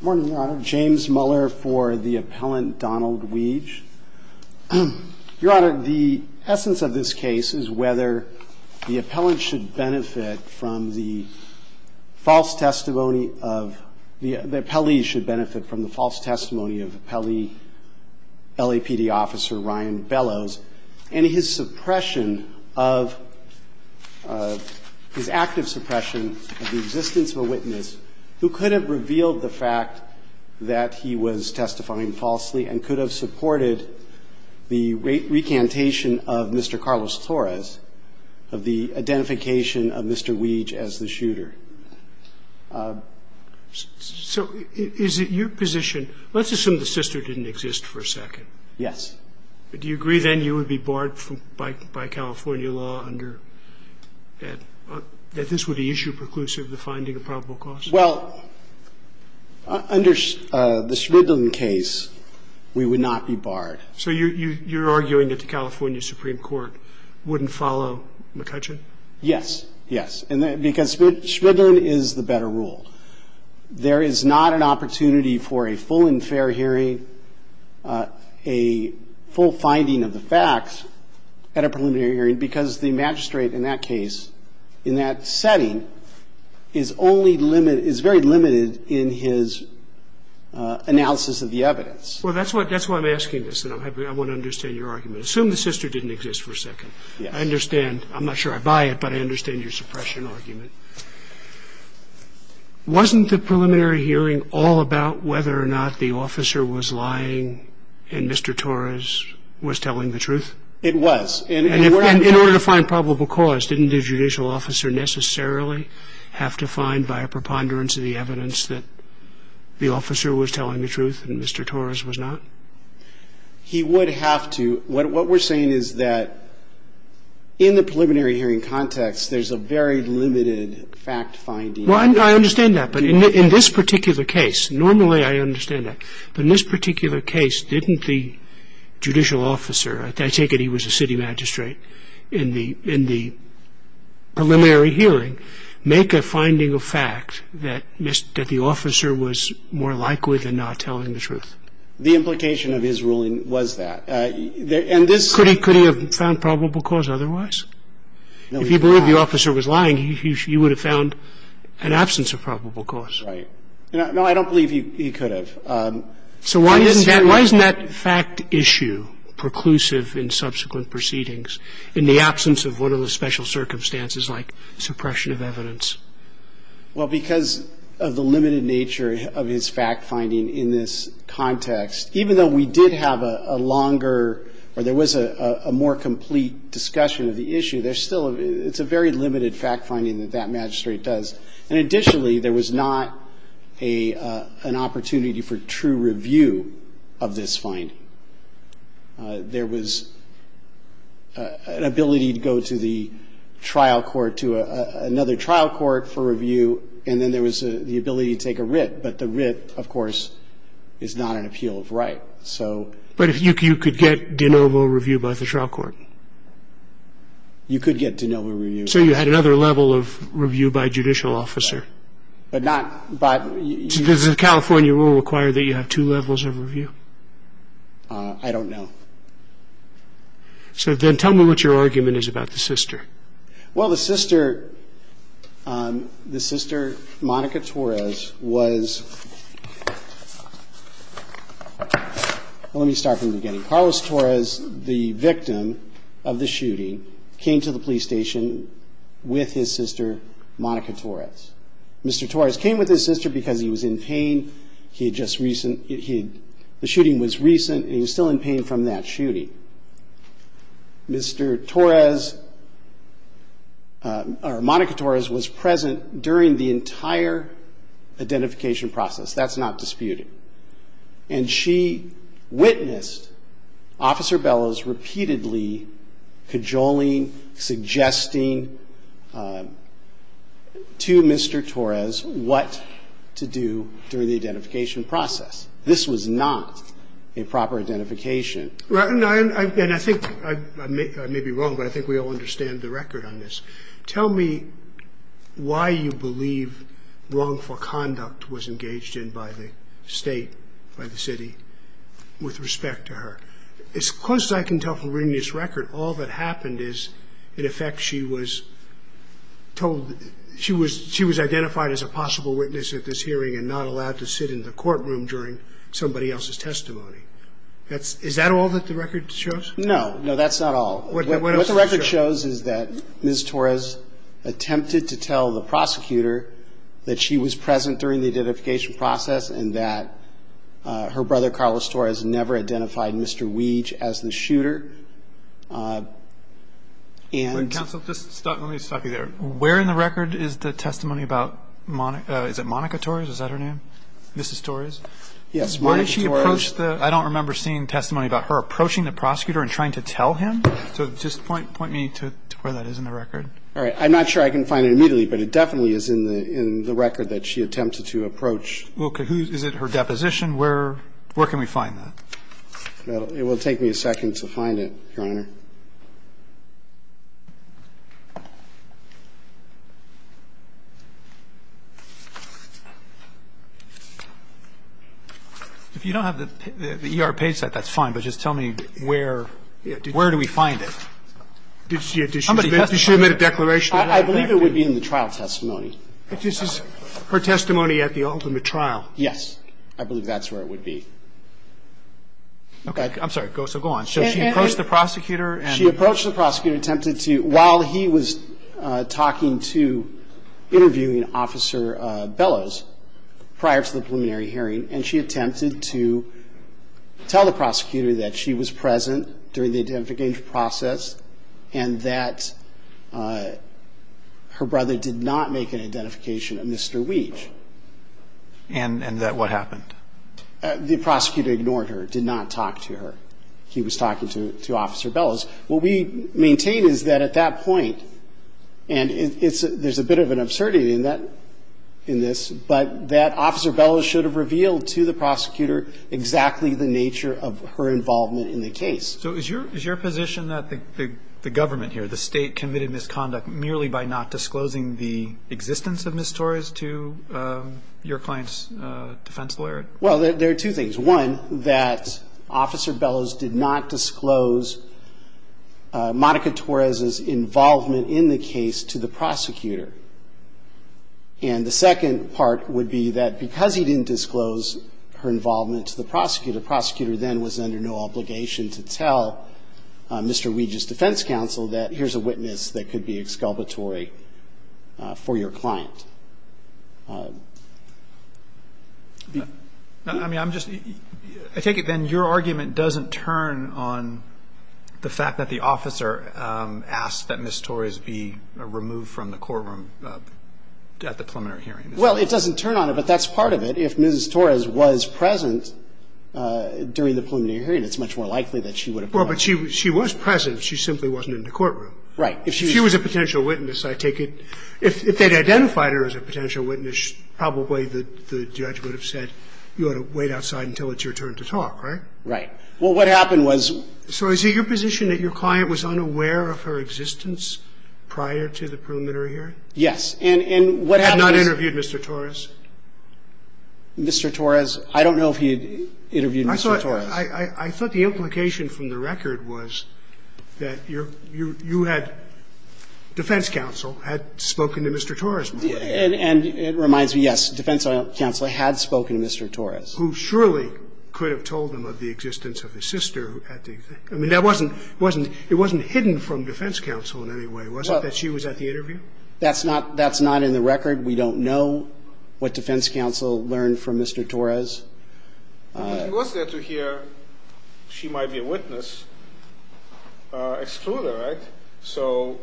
Morning, Your Honor. James Muller for the appellant Donald Wige. Your Honor, the essence of this case is whether the appellant should benefit from the false testimony of, the appellee should benefit from the false testimony of appellee LAPD officer Ryan Bellows, and his suppression of, his active suppression of the existence of a witness who could have revealed the fact that he was a witness to the murder of his wife. The fact that he was testifying falsely and could have supported the recantation of Mr. Carlos Torres, of the identification of Mr. Wige as the shooter. So is it your position, let's assume the sister didn't exist for a second. Yes. Do you agree then you would be barred by California law under, that this would be issue preclusive of the finding of probable cause? Well, under the Shvidlin case, we would not be barred. So you're arguing that the California Supreme Court wouldn't follow McCutcheon? Yes. Yes. Because Shvidlin is the better rule. There is not an opportunity for a full and fair hearing, a full finding of the facts at a preliminary hearing, because the magistrate in that case, in that setting, is very limited in his analysis of the evidence. Well, that's why I'm asking this, and I want to understand your argument. Assume the sister didn't exist for a second. I understand. I'm not sure I buy it, but I understand your suppression argument. Wasn't the preliminary hearing all about whether or not the officer was lying and Mr. Torres was telling the truth? It was. And in order to find probable cause, didn't the judicial officer necessarily have to find, via preponderance of the evidence, that the officer was telling the truth and Mr. Torres was not? He would have to. What we're saying is that in the preliminary hearing context, there's a very limited fact finding. Well, I understand that. But in this particular case, normally I understand that. But in this particular case, didn't the judicial officer, I take it he was a city magistrate, in the preliminary hearing make a finding of fact that the officer was more likely than not telling the truth? The implication of his ruling was that. And this — Could he have found probable cause otherwise? If he believed the officer was lying, he would have found an absence of probable cause. Right. No, I don't believe he could have. So why isn't that fact issue preclusive in subsequent proceedings in the absence of what are the special circumstances like suppression of evidence? Well, because of the limited nature of his fact finding in this context, even though we did have a longer or there was a more complete discussion of the issue, there's still a very limited fact finding that that magistrate does. And additionally, there was not an opportunity for true review of this finding. There was an ability to go to the trial court, to another trial court for review, and then there was the ability to take a writ. But the writ, of course, is not an appeal of right. So — But you could get de novo review by the trial court? You could get de novo review. So you had another level of review by a judicial officer? But not — Does the California rule require that you have two levels of review? I don't know. So then tell me what your argument is about the sister. Well, the sister, Monica Torres, was — let me start from the beginning. Carlos Torres, the victim of the shooting, came to the police station with his sister, Monica Torres. Mr. Torres came with his sister because he was in pain. He had just — the shooting was recent, and he was still in pain from that shooting. Mr. Torres — or Monica Torres was present during the entire identification process. That's not disputed. And she witnessed Officer Bellows repeatedly cajoling, suggesting to Mr. Torres what to do during the identification process. This was not a proper identification. And I think — I may be wrong, but I think we all understand the record on this. Tell me why you believe wrongful conduct was engaged in by the State, by the city, with respect to her. As close as I can tell from reading this record, all that happened is, in effect, she was told — she was identified as a possible witness at this hearing and not allowed to sit in the courtroom during somebody else's testimony. Is that all that the record shows? No. No, that's not all. What the record shows is that Ms. Torres attempted to tell the prosecutor that she was present during the identification process and that her brother, Carlos Torres, never identified Mr. Weege as the shooter. And — Wait, counsel. Just stop. Let me stop you there. Where in the record is the testimony about — is it Monica Torres? Is that her name? Mrs. Torres? Yes, Monica Torres. Why did she approach the — I don't remember seeing testimony about her approaching the prosecutor and trying to tell him. So just point me to where that is in the record. All right. I'm not sure I can find it immediately, but it definitely is in the record that she attempted to approach. Okay. Is it her deposition? Where can we find that? It will take me a second to find it, Your Honor. If you don't have the ER page set, that's fine. But just tell me where — where do we find it? Did she — did she make a declaration? I believe it would be in the trial testimony. This is her testimony at the ultimate trial? Yes. I believe that's where it would be. Okay. I'm sorry. So go on. So she approached the prosecutor and — She approached the prosecutor, attempted to — while he was talking to — interviewing Officer Bellows prior to the preliminary hearing, and she attempted to tell the prosecutor that she was present during the identification process and that her brother did not make an identification of Mr. Weege. And that what happened? The prosecutor ignored her, did not talk to her. He was talking to Officer Bellows. What we maintain is that at that point — and it's — there's a bit of an absurdity in that — in this, but that Officer Bellows should have revealed to the prosecutor exactly the nature of her involvement in the case. So is your — is your position that the government here, the state, committed misconduct merely by not disclosing the existence of Ms. Torres to your client's defense lawyer? Well, there are two things. There's one, that Officer Bellows did not disclose Monica Torres's involvement in the case to the prosecutor. And the second part would be that because he didn't disclose her involvement to the prosecutor, the prosecutor then was under no obligation to tell Mr. Weege's defense counsel that here's a witness that could be exculpatory for your client. I mean, I'm just — I take it then your argument doesn't turn on the fact that the officer asked that Ms. Torres be removed from the courtroom at the preliminary hearing. Well, it doesn't turn on it, but that's part of it. If Ms. Torres was present during the preliminary hearing, it's much more likely that she would have been. Well, but she was present. She simply wasn't in the courtroom. Right. If she was a potential witness, I take it — if they'd identified her, as a potential witness, probably the judge would have said you ought to wait outside until it's your turn to talk, right? Right. Well, what happened was — So is it your position that your client was unaware of her existence prior to the preliminary hearing? Yes. And what happened is — Had not interviewed Mr. Torres? Mr. Torres, I don't know if he had interviewed Mr. Torres. I thought the implication from the record was that you had — defense counsel had spoken to Mr. Torres before. And it reminds me, yes, defense counsel had spoken to Mr. Torres. Who surely could have told him of the existence of his sister. I mean, that wasn't — it wasn't hidden from defense counsel in any way, was it, that she was at the interview? That's not — that's not in the record. We don't know what defense counsel learned from Mr. Torres. He was there to hear she might be a witness, exclude her, right? So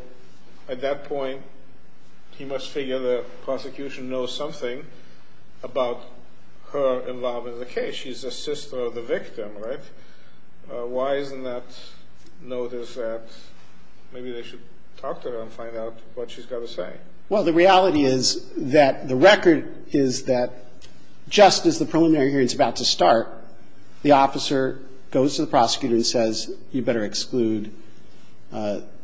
at that point, he must figure the prosecution knows something about her involvement in the case. She's the sister of the victim, right? Why isn't that noticed that maybe they should talk to her and find out what she's got to say? Well, the reality is that the record is that just as the preliminary hearing is about to start, the officer goes to the prosecutor and says, you better exclude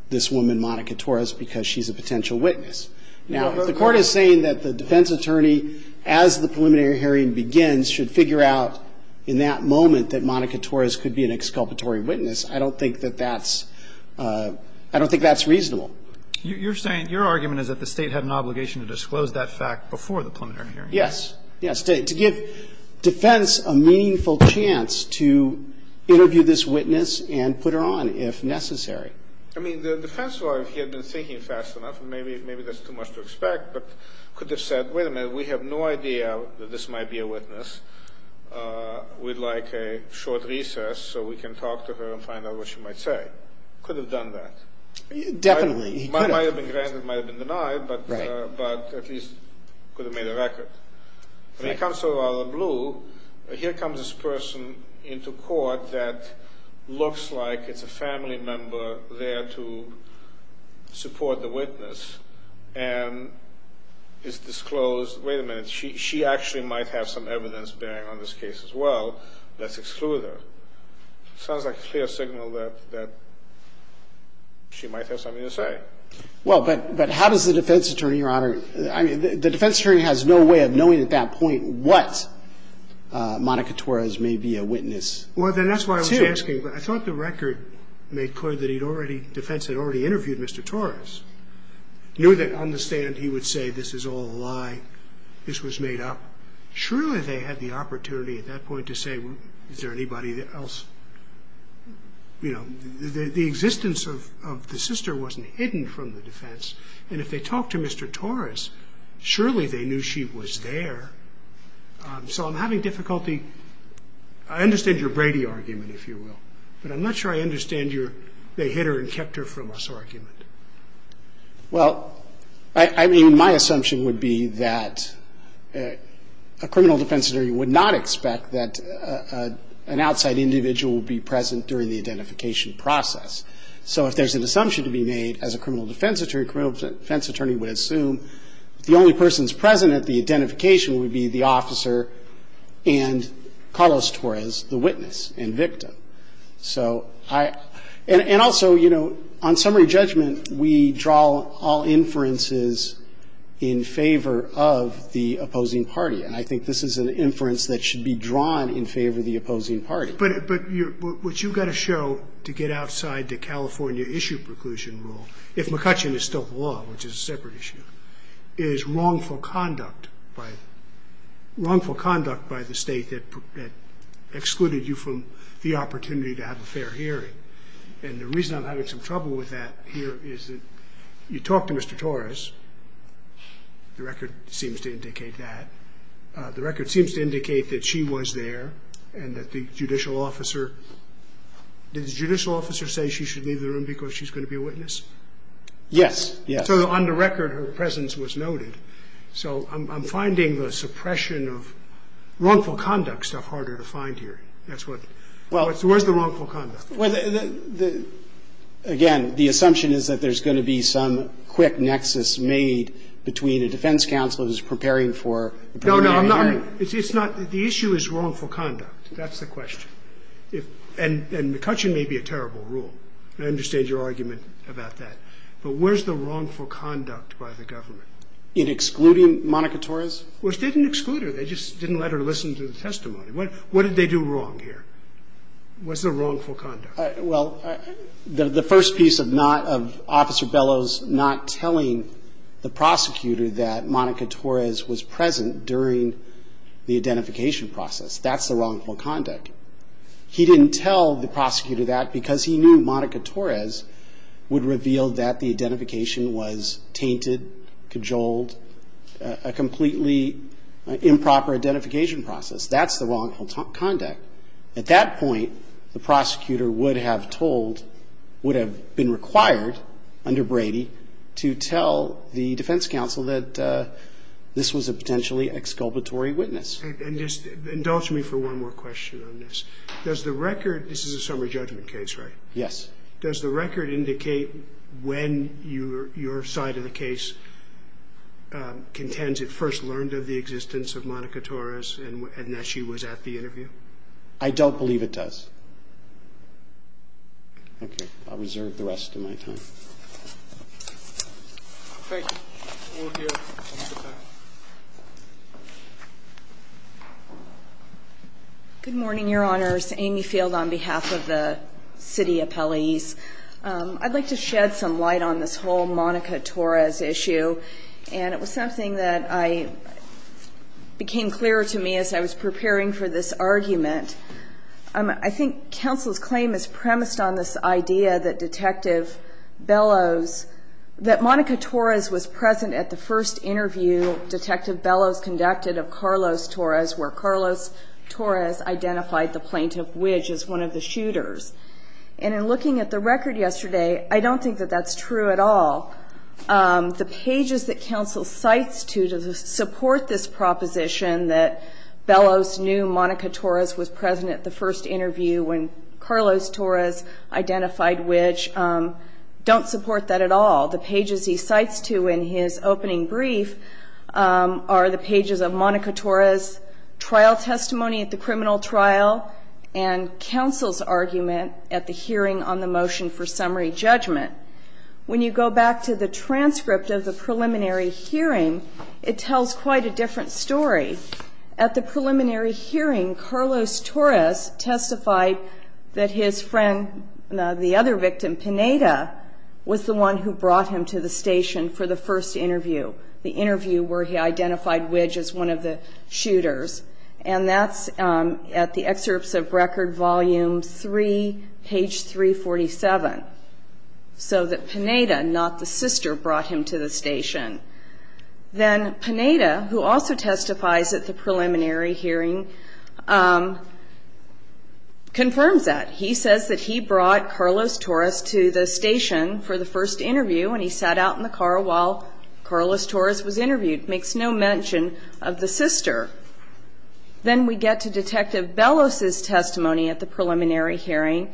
this woman, Monica Torres, because she's a potential witness. Now, the Court is saying that the defense attorney, as the preliminary hearing begins, should figure out in that moment that Monica Torres could be an exculpatory witness. I don't think that that's — I don't think that's reasonable. You're saying — your argument is that the State had an obligation to disclose that fact before the preliminary hearing. Yes. Yes, to give defense a meaningful chance to interview this witness and put her on if necessary. I mean, the defense lawyer, if he had been thinking fast enough, maybe that's too much to expect, but could have said, wait a minute, we have no idea that this might be a witness. We'd like a short recess so we can talk to her and find out what she might say. Could have done that. Definitely. He could have. Might have been granted, might have been denied, but at least could have made a record. When it comes to Other Blue, here comes this person into court that looks like it's a family member there to support the witness and is disclosed, wait a minute, she actually might have some evidence bearing on this case as well. Let's exclude her. Sounds like a clear signal that she might have something to say. Well, but how does the defense attorney, Your Honor — I mean, the defense attorney has no way of knowing at that point what Monica Torres may be a witness to. Well, then that's why I was asking. I thought the record made clear that defense had already interviewed Mr. Torres, knew that on the stand he would say this is all a lie, this was made up. Surely they had the opportunity at that point to say, is there anybody else? You know, the existence of the sister wasn't hidden from the defense, and if they talked to Mr. Torres, surely they knew she was there. So I'm having difficulty — I understand your Brady argument, if you will, but I'm not sure I understand your they hit her and kept her from us argument. Well, I mean, my assumption would be that a criminal defense attorney would not expect that an outside individual would be present during the identification process. So if there's an assumption to be made as a criminal defense attorney, a criminal defense attorney would assume if the only person's present at the identification would be the officer and Carlos Torres, the witness and victim. So I — and also, you know, on summary judgment, we draw all inferences in favor of the opposing party, and I think this is an inference that should be drawn in favor of the opposing party. But what you've got to show to get outside the California issue preclusion rule, if McCutcheon is still the law, which is a separate issue, is wrongful conduct by the state that excluded you from the opportunity to have a fair hearing. And the reason I'm having some trouble with that here is that you talk to Mr. Torres. The record seems to indicate that. I mean, I don't believe that she was there and that the judicial officer — did the judicial officer say she should leave the room because she's going to be a witness? Yes. Yes. So on the record, her presence was noted. So I'm finding the suppression of wrongful conduct stuff harder to find here. That's what — where's the wrongful conduct? Well, again, the assumption is that there's going to be some quick nexus made between the defense counsel who's preparing for a preliminary hearing. No, no. I'm not — it's not — the issue is wrongful conduct. That's the question. And McCutcheon may be a terrible rule. I understand your argument about that. But where's the wrongful conduct by the government? In excluding Monica Torres? Well, it didn't exclude her. They just didn't let her listen to the testimony. What did they do wrong here? What's the wrongful conduct? Well, the first piece of not — of Officer Bellows not telling the prosecutor that Monica Torres was present during the identification process, that's the wrongful conduct. He didn't tell the prosecutor that because he knew Monica Torres would reveal that the identification was tainted, cajoled, a completely improper identification process. That's the wrongful conduct. At that point, the prosecutor would have told — would have been required, under Brady, to tell the defense counsel that this was a potentially exculpatory witness. And just indulge me for one more question on this. Does the record — this is a summary judgment case, right? Yes. Does the record indicate when your side of the case contends it first learned of the I don't believe it does. Okay. I'll reserve the rest of my time. Thank you. We'll hear from the defense. Good morning, Your Honors. Amy Field on behalf of the city appellees. I'd like to shed some light on this whole Monica Torres issue. And it was something that I — became clearer to me as I was preparing for this argument. I think counsel's claim is premised on this idea that Detective Bellows — that Monica Torres was present at the first interview Detective Bellows conducted of Carlos Torres, where Carlos Torres identified the plaintiff, which is one of the shooters. And in looking at the record yesterday, I don't think that that's true at all. The pages that counsel cites to support this proposition that Bellows knew Monica Torres was present at the first interview when Carlos Torres identified which, don't support that at all. The pages he cites to in his opening brief are the pages of Monica Torres' trial testimony at the criminal trial and counsel's argument at the hearing on the motion for summary judgment. When you go back to the transcript of the preliminary hearing, it tells quite a different story. At the preliminary hearing, Carlos Torres testified that his friend — the other victim, Pineda, was the one who brought him to the station for the first interview, the interview where he identified which is one of the shooters. And that's at the excerpts of Record Volume 3, page 347. So that Pineda, not the sister, brought him to the station. Then Pineda, who also testifies at the preliminary hearing, confirms that. He says that he brought Carlos Torres to the station for the first interview, and he sat out in the car while Carlos Torres was interviewed. Makes no mention of the sister. Then we get to Detective Bellos' testimony at the preliminary hearing,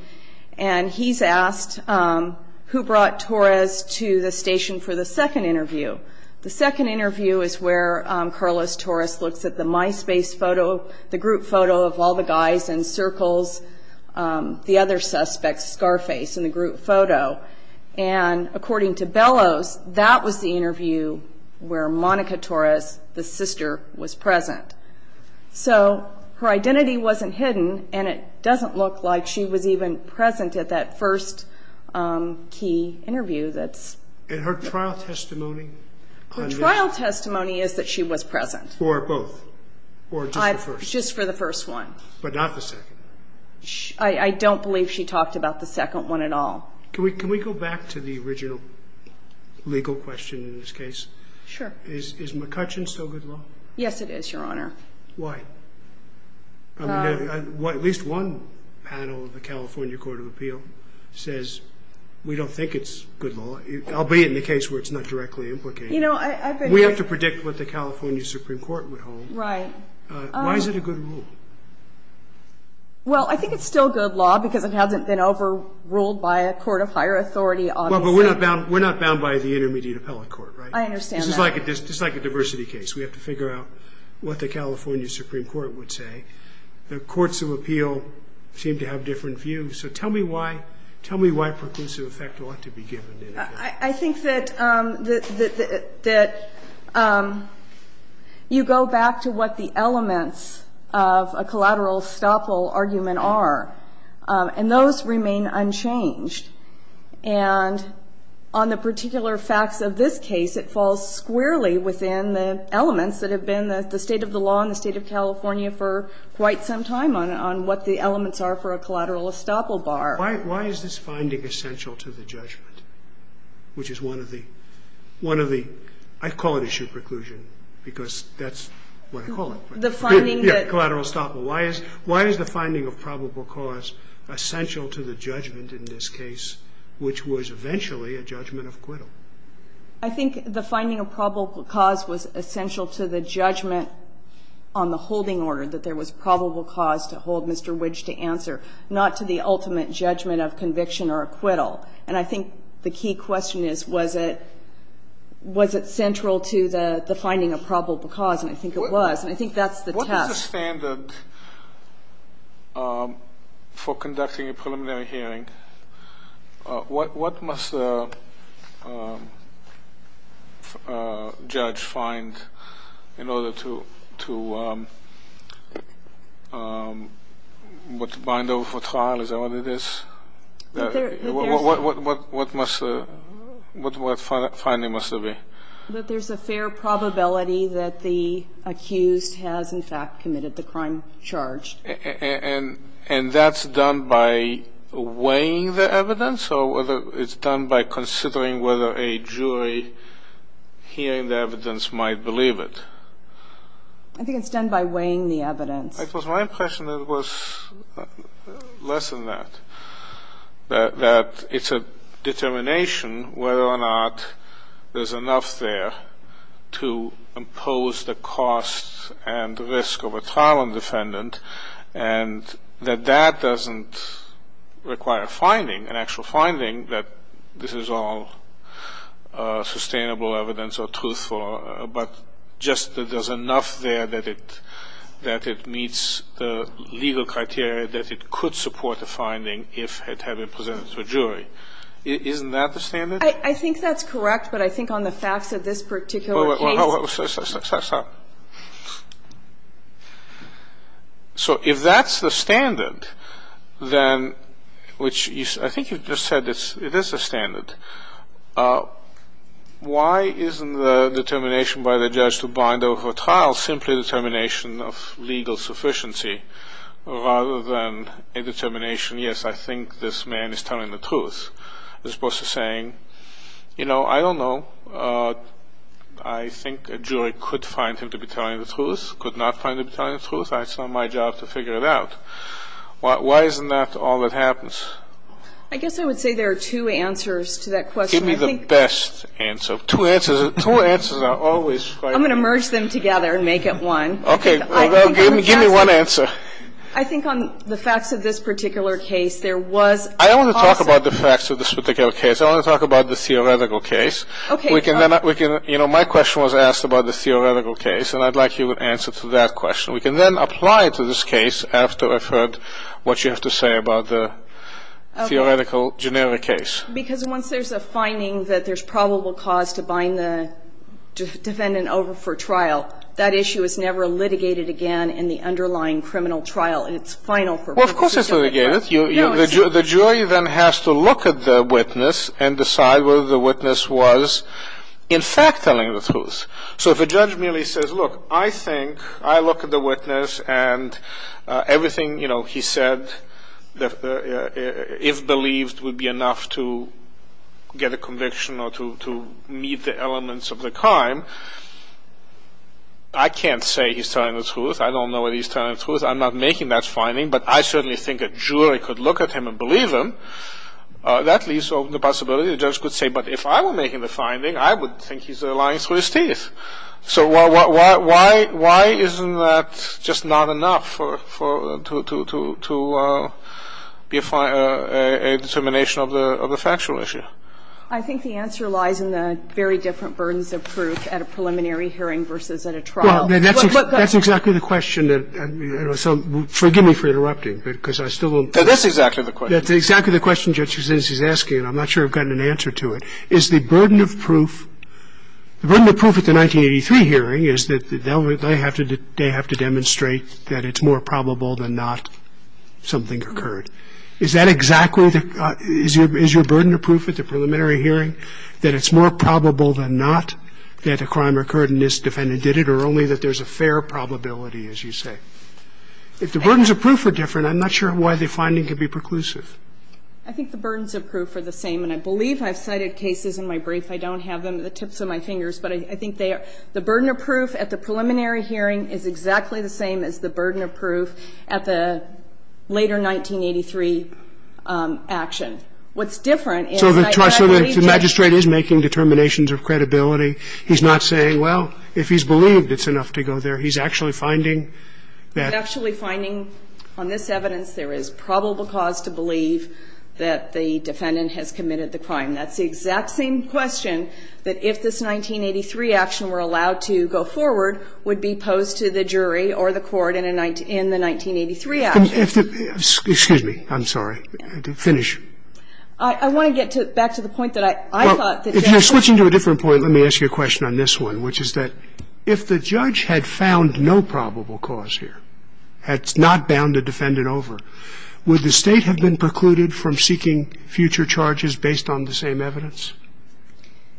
and he's asked who brought Torres to the station for the second interview. The second interview is where Carlos Torres looks at the MySpace photo, the group photo of all the guys in circles, the other suspects, Scarface, in the group photo. And according to Bellos, that was the interview where Monica Torres, the sister, was present. So her identity wasn't hidden, and it doesn't look like she was even present at that first key interview. And her trial testimony? Her trial testimony is that she was present. For both, or just the first? Just for the first one. But not the second? I don't believe she talked about the second one at all. Can we go back to the original legal question in this case? Sure. Is McCutcheon still good law? Yes, it is, Your Honor. Why? At least one panel of the California Court of Appeal says we don't think it's good law, albeit in the case where it's not directly implicated. We have to predict what the California Supreme Court would hold. Right. Why is it a good rule? Well, I think it's still good law because it hasn't been overruled by a court of higher authority. Well, but we're not bound by the intermediate appellate court, right? I understand that. This is like a diversity case. We have to figure out what the California Supreme Court would say. The courts of appeal seem to have different views. So tell me why preclusive effect ought to be given. I think that you go back to what the elements of a collateral estoppel argument are, and those remain unchanged. And on the particular facts of this case, it falls squarely within the elements that have been the state of the law in the State of California for quite some time on what the elements are for a collateral estoppel bar. Why is this finding essential to the judgment, which is one of the one of the I call it issue preclusion because that's what I call it. The finding that Collateral estoppel. Why is the finding of probable cause essential to the judgment in this case, which was eventually a judgment of acquittal? I think the finding of probable cause was essential to the judgment on the holding order, that there was probable cause to hold Mr. Widge to answer, not to the ultimate judgment of conviction or acquittal. And I think the key question is, was it central to the finding of probable cause, and I think it was. And I think that's the test. What is the standard for conducting a preliminary hearing? What must a judge find in order to bind over for trial? Is that what it is? What must the finding must be? That there's a fair probability that the accused has in fact committed the crime charged. And that's done by weighing the evidence or whether it's done by considering whether a jury hearing the evidence might believe it? I think it's done by weighing the evidence. It was my impression that it was less than that, that it's a determination whether or not there's enough there to impose the cost and risk of a trial on defendant, and that that doesn't require a finding, an actual finding, that this is all sustainable evidence or truthful, but just that there's enough there that it meets the legal criteria that it could support a finding if it had been presented to a jury. Isn't that the standard? I think that's correct, but I think on the facts of this particular case. So if that's the standard, then, which I think you just said it is a standard, why isn't the determination by the judge to bind over for trial simply determining whether or not there's enough evidence to support the finding? I think it's a determination of legal sufficiency rather than a determination, yes, I think this man is telling the truth, as opposed to saying, you know, I don't know. I think a jury could find him to be telling the truth, could not find him to be telling the truth. It's not my job to figure it out. Why isn't that all that happens? I guess I would say there are two answers to that question. Give me the best answer. Two answers are always right. I'm going to merge them together and make it one. Okay. Give me one answer. I think on the facts of this particular case, there was. I don't want to talk about the facts of this particular case. I want to talk about the theoretical case. Okay. You know, my question was asked about the theoretical case, and I'd like you to answer to that question. We can then apply it to this case after I've heard what you have to say about the theoretical generic case. Because once there's a finding that there's probable cause to bind the defendant over for trial, that issue is never litigated again in the underlying criminal trial. It's final for both. Well, of course it's litigated. No, it's not. The jury then has to look at the witness and decide whether the witness was in fact telling the truth. So if a judge merely says, look, I think, I look at the witness and everything, you know, he said, if believed, would be enough to get a conviction or to meet the elements of the crime, I can't say he's telling the truth. I don't know that he's telling the truth. I'm not making that finding, but I certainly think a jury could look at him and believe him. That leaves open the possibility the judge could say, but if I were making the I'm not making that finding, but I certainly think a jury could look at him and believe him. So why isn't that just not enough to be a determination of the factual issue? I think the answer lies in the very different burdens of proof at a preliminary hearing versus at a trial. And that's exactly the question that, you know, so forgive me for interrupting because I still don't That's exactly the question. That's exactly the question Judge Kucinich is asking, and I'm not sure I've gotten an answer to it. Is the burden of proof, the burden of proof at the 1983 hearing is that they have to demonstrate that it's more probable than not something occurred. Is that exactly the, is your burden of proof at the preliminary hearing, that it's more probable than not that a crime occurred and this defendant did it or only that there's a fair probability, as you say? If the burdens of proof are different, I'm not sure why the finding could be preclusive. I think the burdens of proof are the same, and I believe I've cited cases in my brief. I don't have them at the tips of my fingers, but I think they are. The burden of proof at the preliminary hearing is exactly the same as the burden of proof at the later 1983 action. What's different is I believe that So the magistrate is making determinations of credibility. He's not saying, well, if he's believed, it's enough to go there. He's actually finding that He's actually finding on this evidence there is probable cause to believe that the defendant has committed the crime. That's the exact same question that if this 1983 action were allowed to go forward would be posed to the jury or the court in the 1983 action. Excuse me. I'm sorry. Finish. I want to get back to the point that I thought that If you're switching to a different point, let me ask you a question on this one, which is that if the judge had found no probable cause here, had not bound a defendant over, would the State have been precluded from seeking future charges based on the same evidence?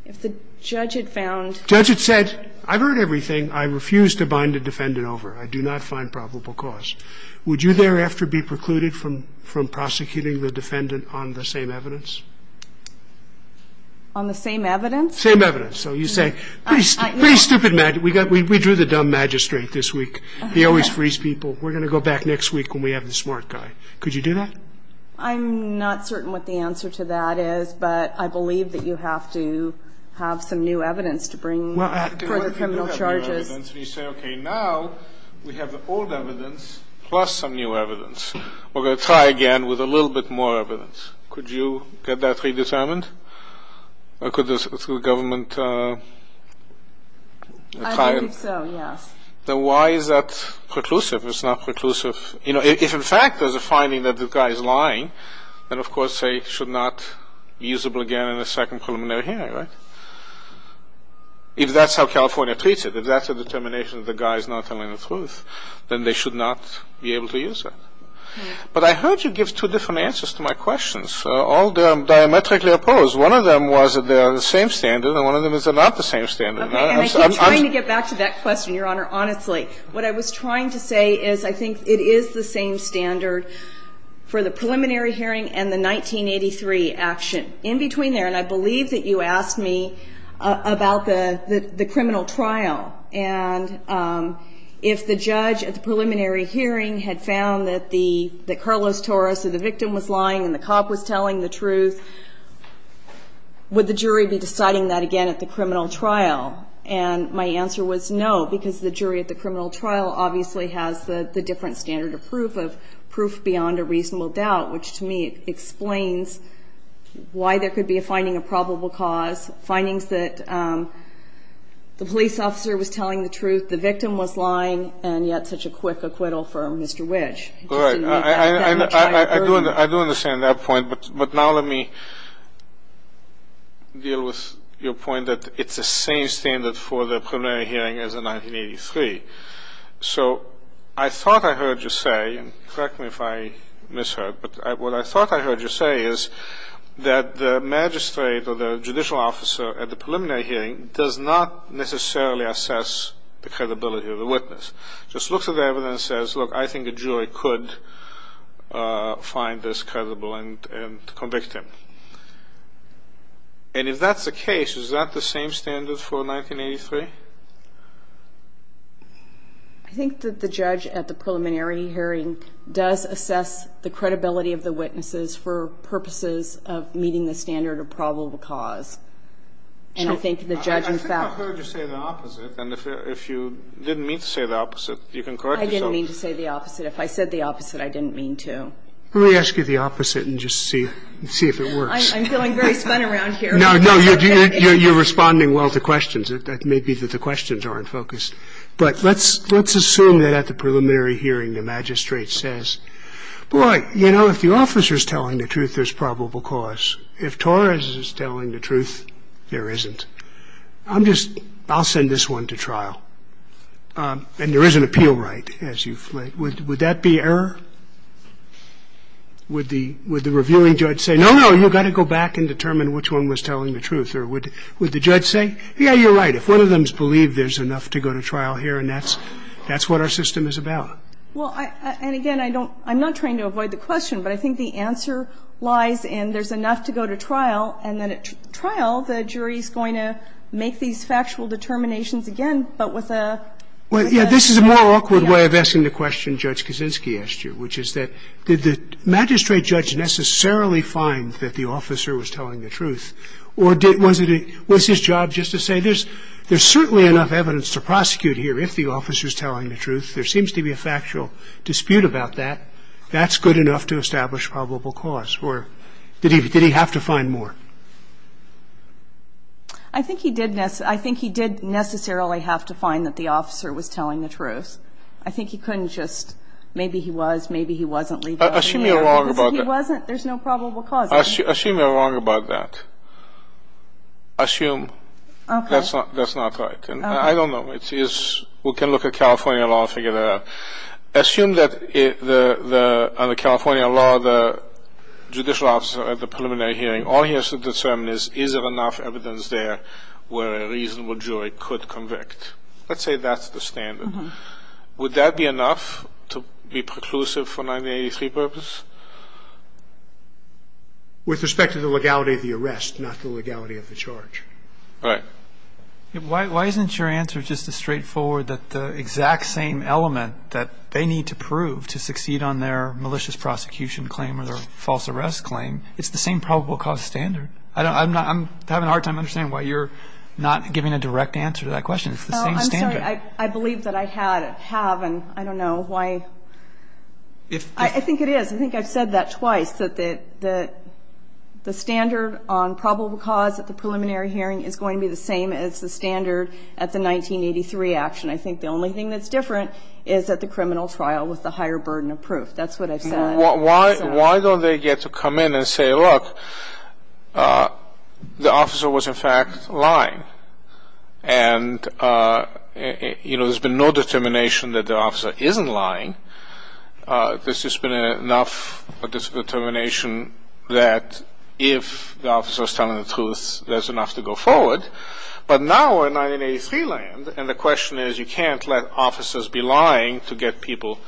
If the judge had found Judge had said, I've heard everything. I refuse to bind a defendant over. I do not find probable cause. Would you thereafter be precluded from prosecuting the defendant on the same evidence? On the same evidence? Same evidence. So you say, pretty stupid magic. We drew the dumb magistrate this week. He always frees people. We're going to go back next week when we have the smart guy. Could you do that? I'm not certain what the answer to that is, but I believe that you have to have some new evidence to bring for the criminal charges. Now we have the old evidence plus some new evidence. We're going to try again with a little bit more evidence. Could you get that redetermined? Or could the government try it? I think so, yes. Then why is that preclusive? It's not preclusive. If in fact there's a finding that the guy is lying, then of course they should not be usable again in a second preliminary hearing, right? If that's how California treats it. If that's a determination that the guy is not telling the truth, then they should not be able to use it. But I heard you give two different answers to my questions, all diametrically opposed. One of them was that they are the same standard, and one of them is they're not the same standard. Okay. And I keep trying to get back to that question, Your Honor, honestly. What I was trying to say is I think it is the same standard for the preliminary hearing and the 1983 action. In between there, and I believe that you asked me about the criminal trial. And if the judge at the preliminary hearing had found that Carlos Torres, the victim, was lying and the cop was telling the truth, would the jury be deciding that again at the criminal trial? And my answer was no, because the jury at the criminal trial obviously has the different standard of proof, of proof beyond a reasonable doubt, which to me explains why there could be a finding of probable cause, findings that the police officer was telling the truth, the victim was lying, and yet such a quick acquittal from Mr. Whitch. I just didn't make that much of an argument. All right. I do understand that point. But now let me deal with your point that it's the same standard for the preliminary hearing as the 1983. So I thought I heard you say, and correct me if I misheard, but what I thought I heard you say is that the magistrate or the judicial officer at the preliminary hearing does not necessarily assess the credibility of the witness. Just looks at the evidence and says, look, I think a jury could find this credible and convict him. And if that's the case, is that the same standard for 1983? I think that the judge at the preliminary hearing does assess the credibility of the witnesses for purposes of meeting the standard of probable cause. And I think the judge in fact ---- I think I heard you say the opposite. And if you didn't mean to say the opposite, you can correct yourself. I didn't mean to say the opposite. If I said the opposite, I didn't mean to. Let me ask you the opposite and just see if it works. I'm feeling very spun around here. No, no. You're responding well to questions. It may be that the questions aren't focused. But let's assume that at the preliminary hearing the magistrate says, boy, you know, if the officer is telling the truth, there's probable cause. If Torres is telling the truth, there isn't. I'm just ---- I'll send this one to trial. And there is an appeal right as you've laid. Would that be error? Would the reviewing judge say, no, no, you've got to go back and determine which one was telling the truth? Or would the judge say, yeah, you're right, if one of them has believed there's enough to go to trial here and that's what our system is about? Well, and again, I don't ---- I'm not trying to avoid the question, but I think the answer lies in there's enough to go to trial, and then at trial the jury is going to make these factual determinations again, but with a ---- Well, yeah, this is a more awkward way of asking the question Judge Kaczynski asked you, which is that did the magistrate judge necessarily find that the officer was telling the truth? Or did ---- was it a ---- was his job just to say there's certainly enough evidence to prosecute here if the officer is telling the truth. There seems to be a factual dispute about that. That's good enough to establish probable cause. Or did he have to find more? I think he could have found more if he was telling the truth. I think he couldn't just ---- maybe he was, maybe he wasn't ---- Assume you're wrong about that. He wasn't. There's no probable cause. Assume you're wrong about that. Assume. Okay. That's not right. Okay. I don't know. It is ---- we can look at California law and figure that out. Assume that the ---- on the California law, the judicial officer at the preliminary hearing, all he has to determine is is there enough evidence there where a reasonable jury could convict. Let's say that's the standard. Would that be enough to be preclusive for 1983 purpose? With respect to the legality of the arrest, not the legality of the charge. Right. Why isn't your answer just as straightforward that the exact same element that they need to prove to succeed on their malicious prosecution claim or their false arrest claim, it's the same probable cause standard? I'm not ---- I'm having a hard time understanding why you're not giving a direct answer to that question. It's the same standard. I'm sorry. I believe that I had, have, and I don't know why. If ---- I think it is. I think I've said that twice, that the standard on probable cause at the preliminary hearing is going to be the same as the standard at the 1983 action. I think the only thing that's different is at the criminal trial with the higher burden of proof. That's what I've said. Why don't they get to come in and say, look, the officer was, in fact, lying. And, you know, there's been no determination that the officer isn't lying. There's just been enough determination that if the officer is telling the truth, there's enough to go forward. But now we're in 1983 land, and the question is, we can't let officers be lying to get people,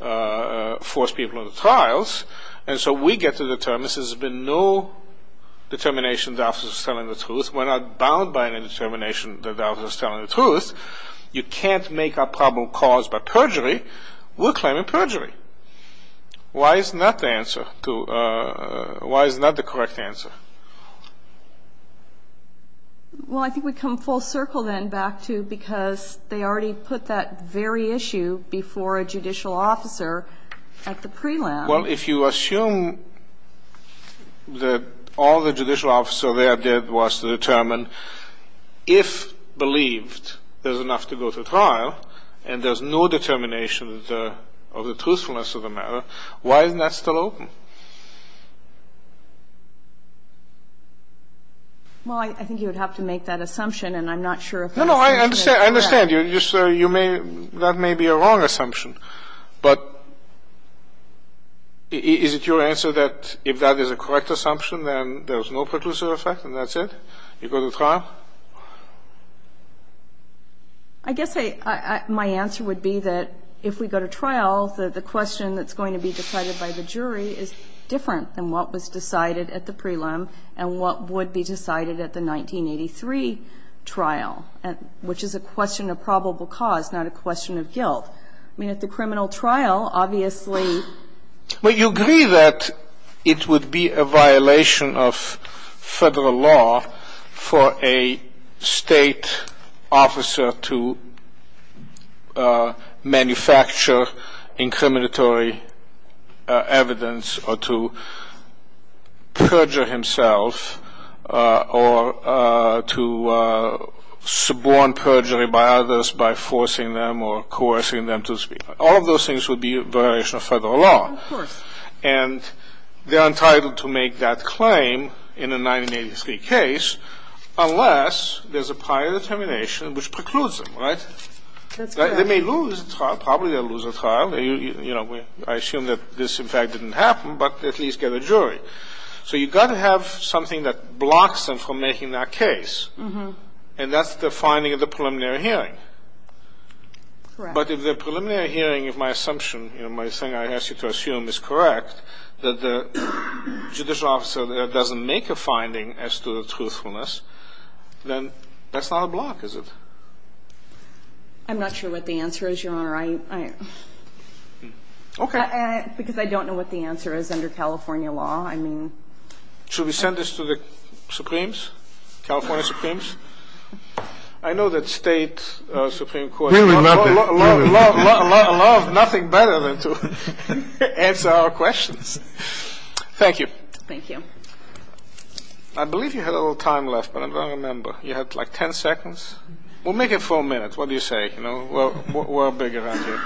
force people into trials. And so we get to determine, since there's been no determination the officer is telling the truth, we're not bound by any determination that the officer is telling the truth, you can't make a probable cause by perjury. We're claiming perjury. Why is not the answer to, why is not the correct answer? Well, I think we come full circle then back to because they already put that very issue before a judicial officer at the prelim. Well, if you assume that all the judicial officer there did was to determine if believed there's enough to go to trial and there's no determination of the truthfulness of the matter, why isn't that still open? Well, I think you would have to make that assumption, and I'm not sure if that's correct. No, no, I understand. I understand. You're just, you may, that may be a wrong assumption. But is it your answer that if that is a correct assumption, then there's no preclusive effect and that's it? You go to trial? I guess I, my answer would be that if we go to trial, the question that's going to be decided by the jury is different than what was decided at the prelim and what would be decided at the 1983 trial, which is a question of probable cause, not a question of guilt. I mean, at the criminal trial, obviously you agree that it would be a violation of federal law for a state officer to manufacture incriminatory evidence or to perjure himself or to suborn perjury by others by forcing them or coercing them to speak. All of those things would be a violation of federal law. Of course. And they're entitled to make that claim in a 1983 case unless there's a prior determination which precludes them, right? That's correct. They may lose the trial. Probably they'll lose the trial. You know, I assume that this, in fact, didn't happen, but at least get a jury. So you've got to have something that blocks them from making that case. And that's the finding of the preliminary hearing. Correct. But if the preliminary hearing, if my assumption, you know, my thing I ask you to assume is correct, that the judicial officer there doesn't make a finding as to the truthfulness, then that's not a block, is it? I'm not sure what the answer is, Your Honor. Okay. Because I don't know what the answer is under California law. Should we send this to the Supremes, California Supremes? I know that State supreme courts love nothing better than to answer our questions. Thank you. Thank you. I believe you had a little time left, but I don't remember. You had like 10 seconds. We'll make it 4 minutes. What do you say? You know, we're big around here.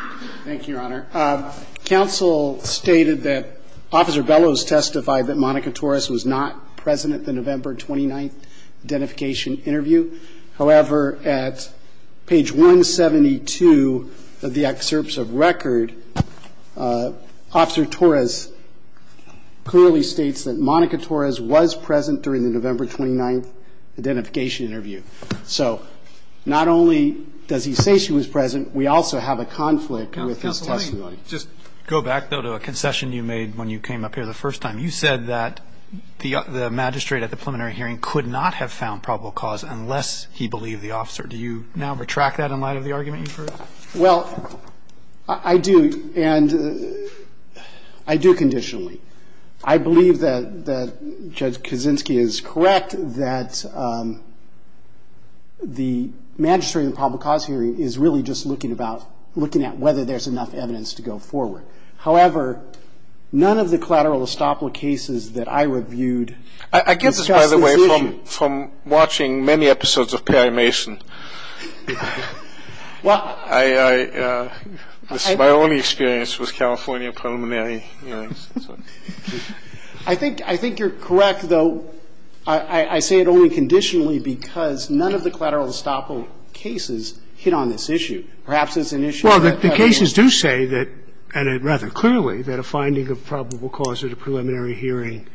Thank you, Your Honor. Counsel stated that Officer Bellows testified that Monica Torres was not present at the November 29th identification interview. However, at page 172 of the excerpts of record, Officer Torres clearly states that Monica Torres was present during the November 29th identification interview. So not only does he say she was present, we also have a conflict with his testimony. Counsel, let me just go back, though, to a concession you made when you came up here for the first time. You said that the magistrate at the preliminary hearing could not have found probable cause unless he believed the officer. Do you now retract that in light of the argument you've heard? Well, I do, and I do conditionally. I believe that Judge Kaczynski is correct that the magistrate at the probable cause hearing is really just looking about, looking at whether there's enough evidence to go forward. However, none of the collateral estoppel cases that I reviewed discuss this issue. I get this, by the way, from watching many episodes of Perry Mason. Well, I — This is my only experience with California preliminary hearings. I think you're correct, though. I say it only conditionally because none of the collateral estoppel cases hit on this Perhaps it's an issue that Perry Mason — Well, the cases do say that, and rather clearly, that a finding of probable cause at a preliminary hearing,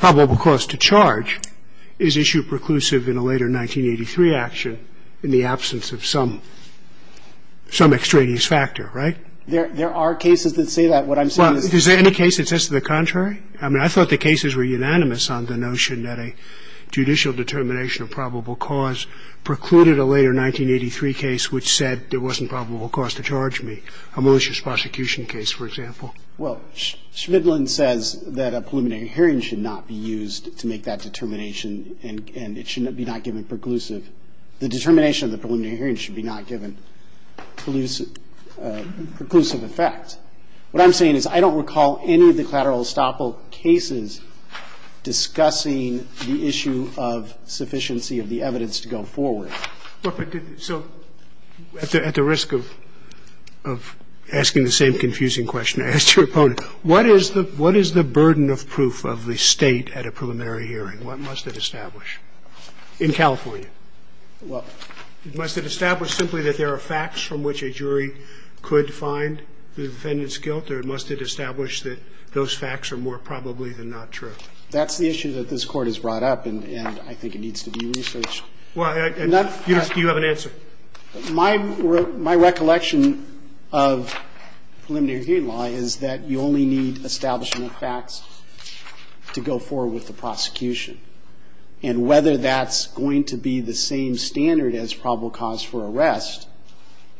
probable cause to charge, is issue preclusive in a later 1983 action in the absence of some extraneous factor, right? There are cases that say that. What I'm saying is — Well, is there any case that says the contrary? I mean, I thought the cases were unanimous on the notion that a judicial determination of probable cause precluded a later 1983 case which said there wasn't probable cause to charge me, a malicious prosecution case, for example. Well, Shvidlin says that a preliminary hearing should not be used to make that determination and it should be not given preclusive. The determination of the preliminary hearing should be not given preclusive effect. What I'm saying is I don't recall any of the collateral estoppel cases discussing the issue of sufficiency of the evidence to go forward. So at the risk of asking the same confusing question I asked your opponent, what is the burden of proof of the State at a preliminary hearing? What must it establish? In California. Well — Must it establish simply that there are facts from which a jury could find the defendant's guilt, or must it establish that those facts are more probably than not true? That's the issue that this Court has brought up and I think it needs to be researched. Do you have an answer? My recollection of preliminary hearing law is that you only need establishment of facts to go forward with the prosecution. And whether that's going to be the same standard as probable cause for arrest,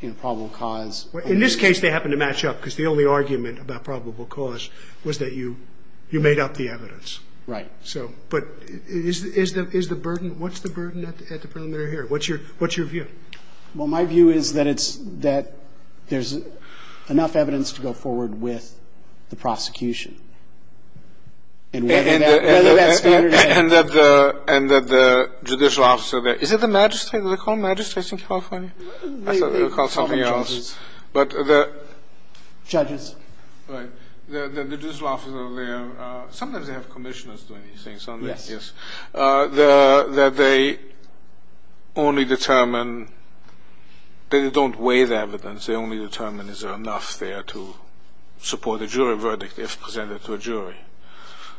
you know, probable cause — Well, in this case they happen to match up because the only argument about probable cause was that you made up the evidence. Right. So — but is the burden — what's the burden at the preliminary hearing? What's your view? Well, my view is that it's — that there's enough evidence to go forward with the prosecution. And whether that standard — And that the judicial officer — is it the magistrate? Do they call magistrates in California? I thought they would call something else. But the — Judges. Right. The judicial officer there — sometimes they have commissioners doing these things, don't they? Yes. Yes. That they only determine — they don't weigh the evidence. They only determine is there enough there to support a jury verdict if presented to a jury.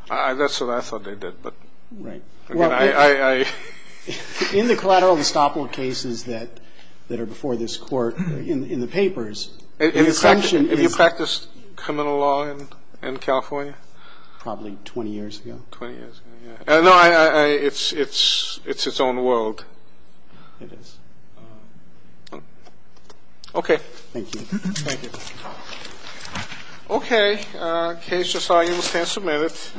That's what I thought they did, but — Right. I — In the collateral and estoppel cases that are before this Court in the papers, the assumption is — Have you practiced criminal law in California? Probably 20 years ago. Twenty years ago, yeah. No, I — it's its own world. It is. Okay. Thank you. Thank you. Okay. Case just argued. We'll stand for a minute.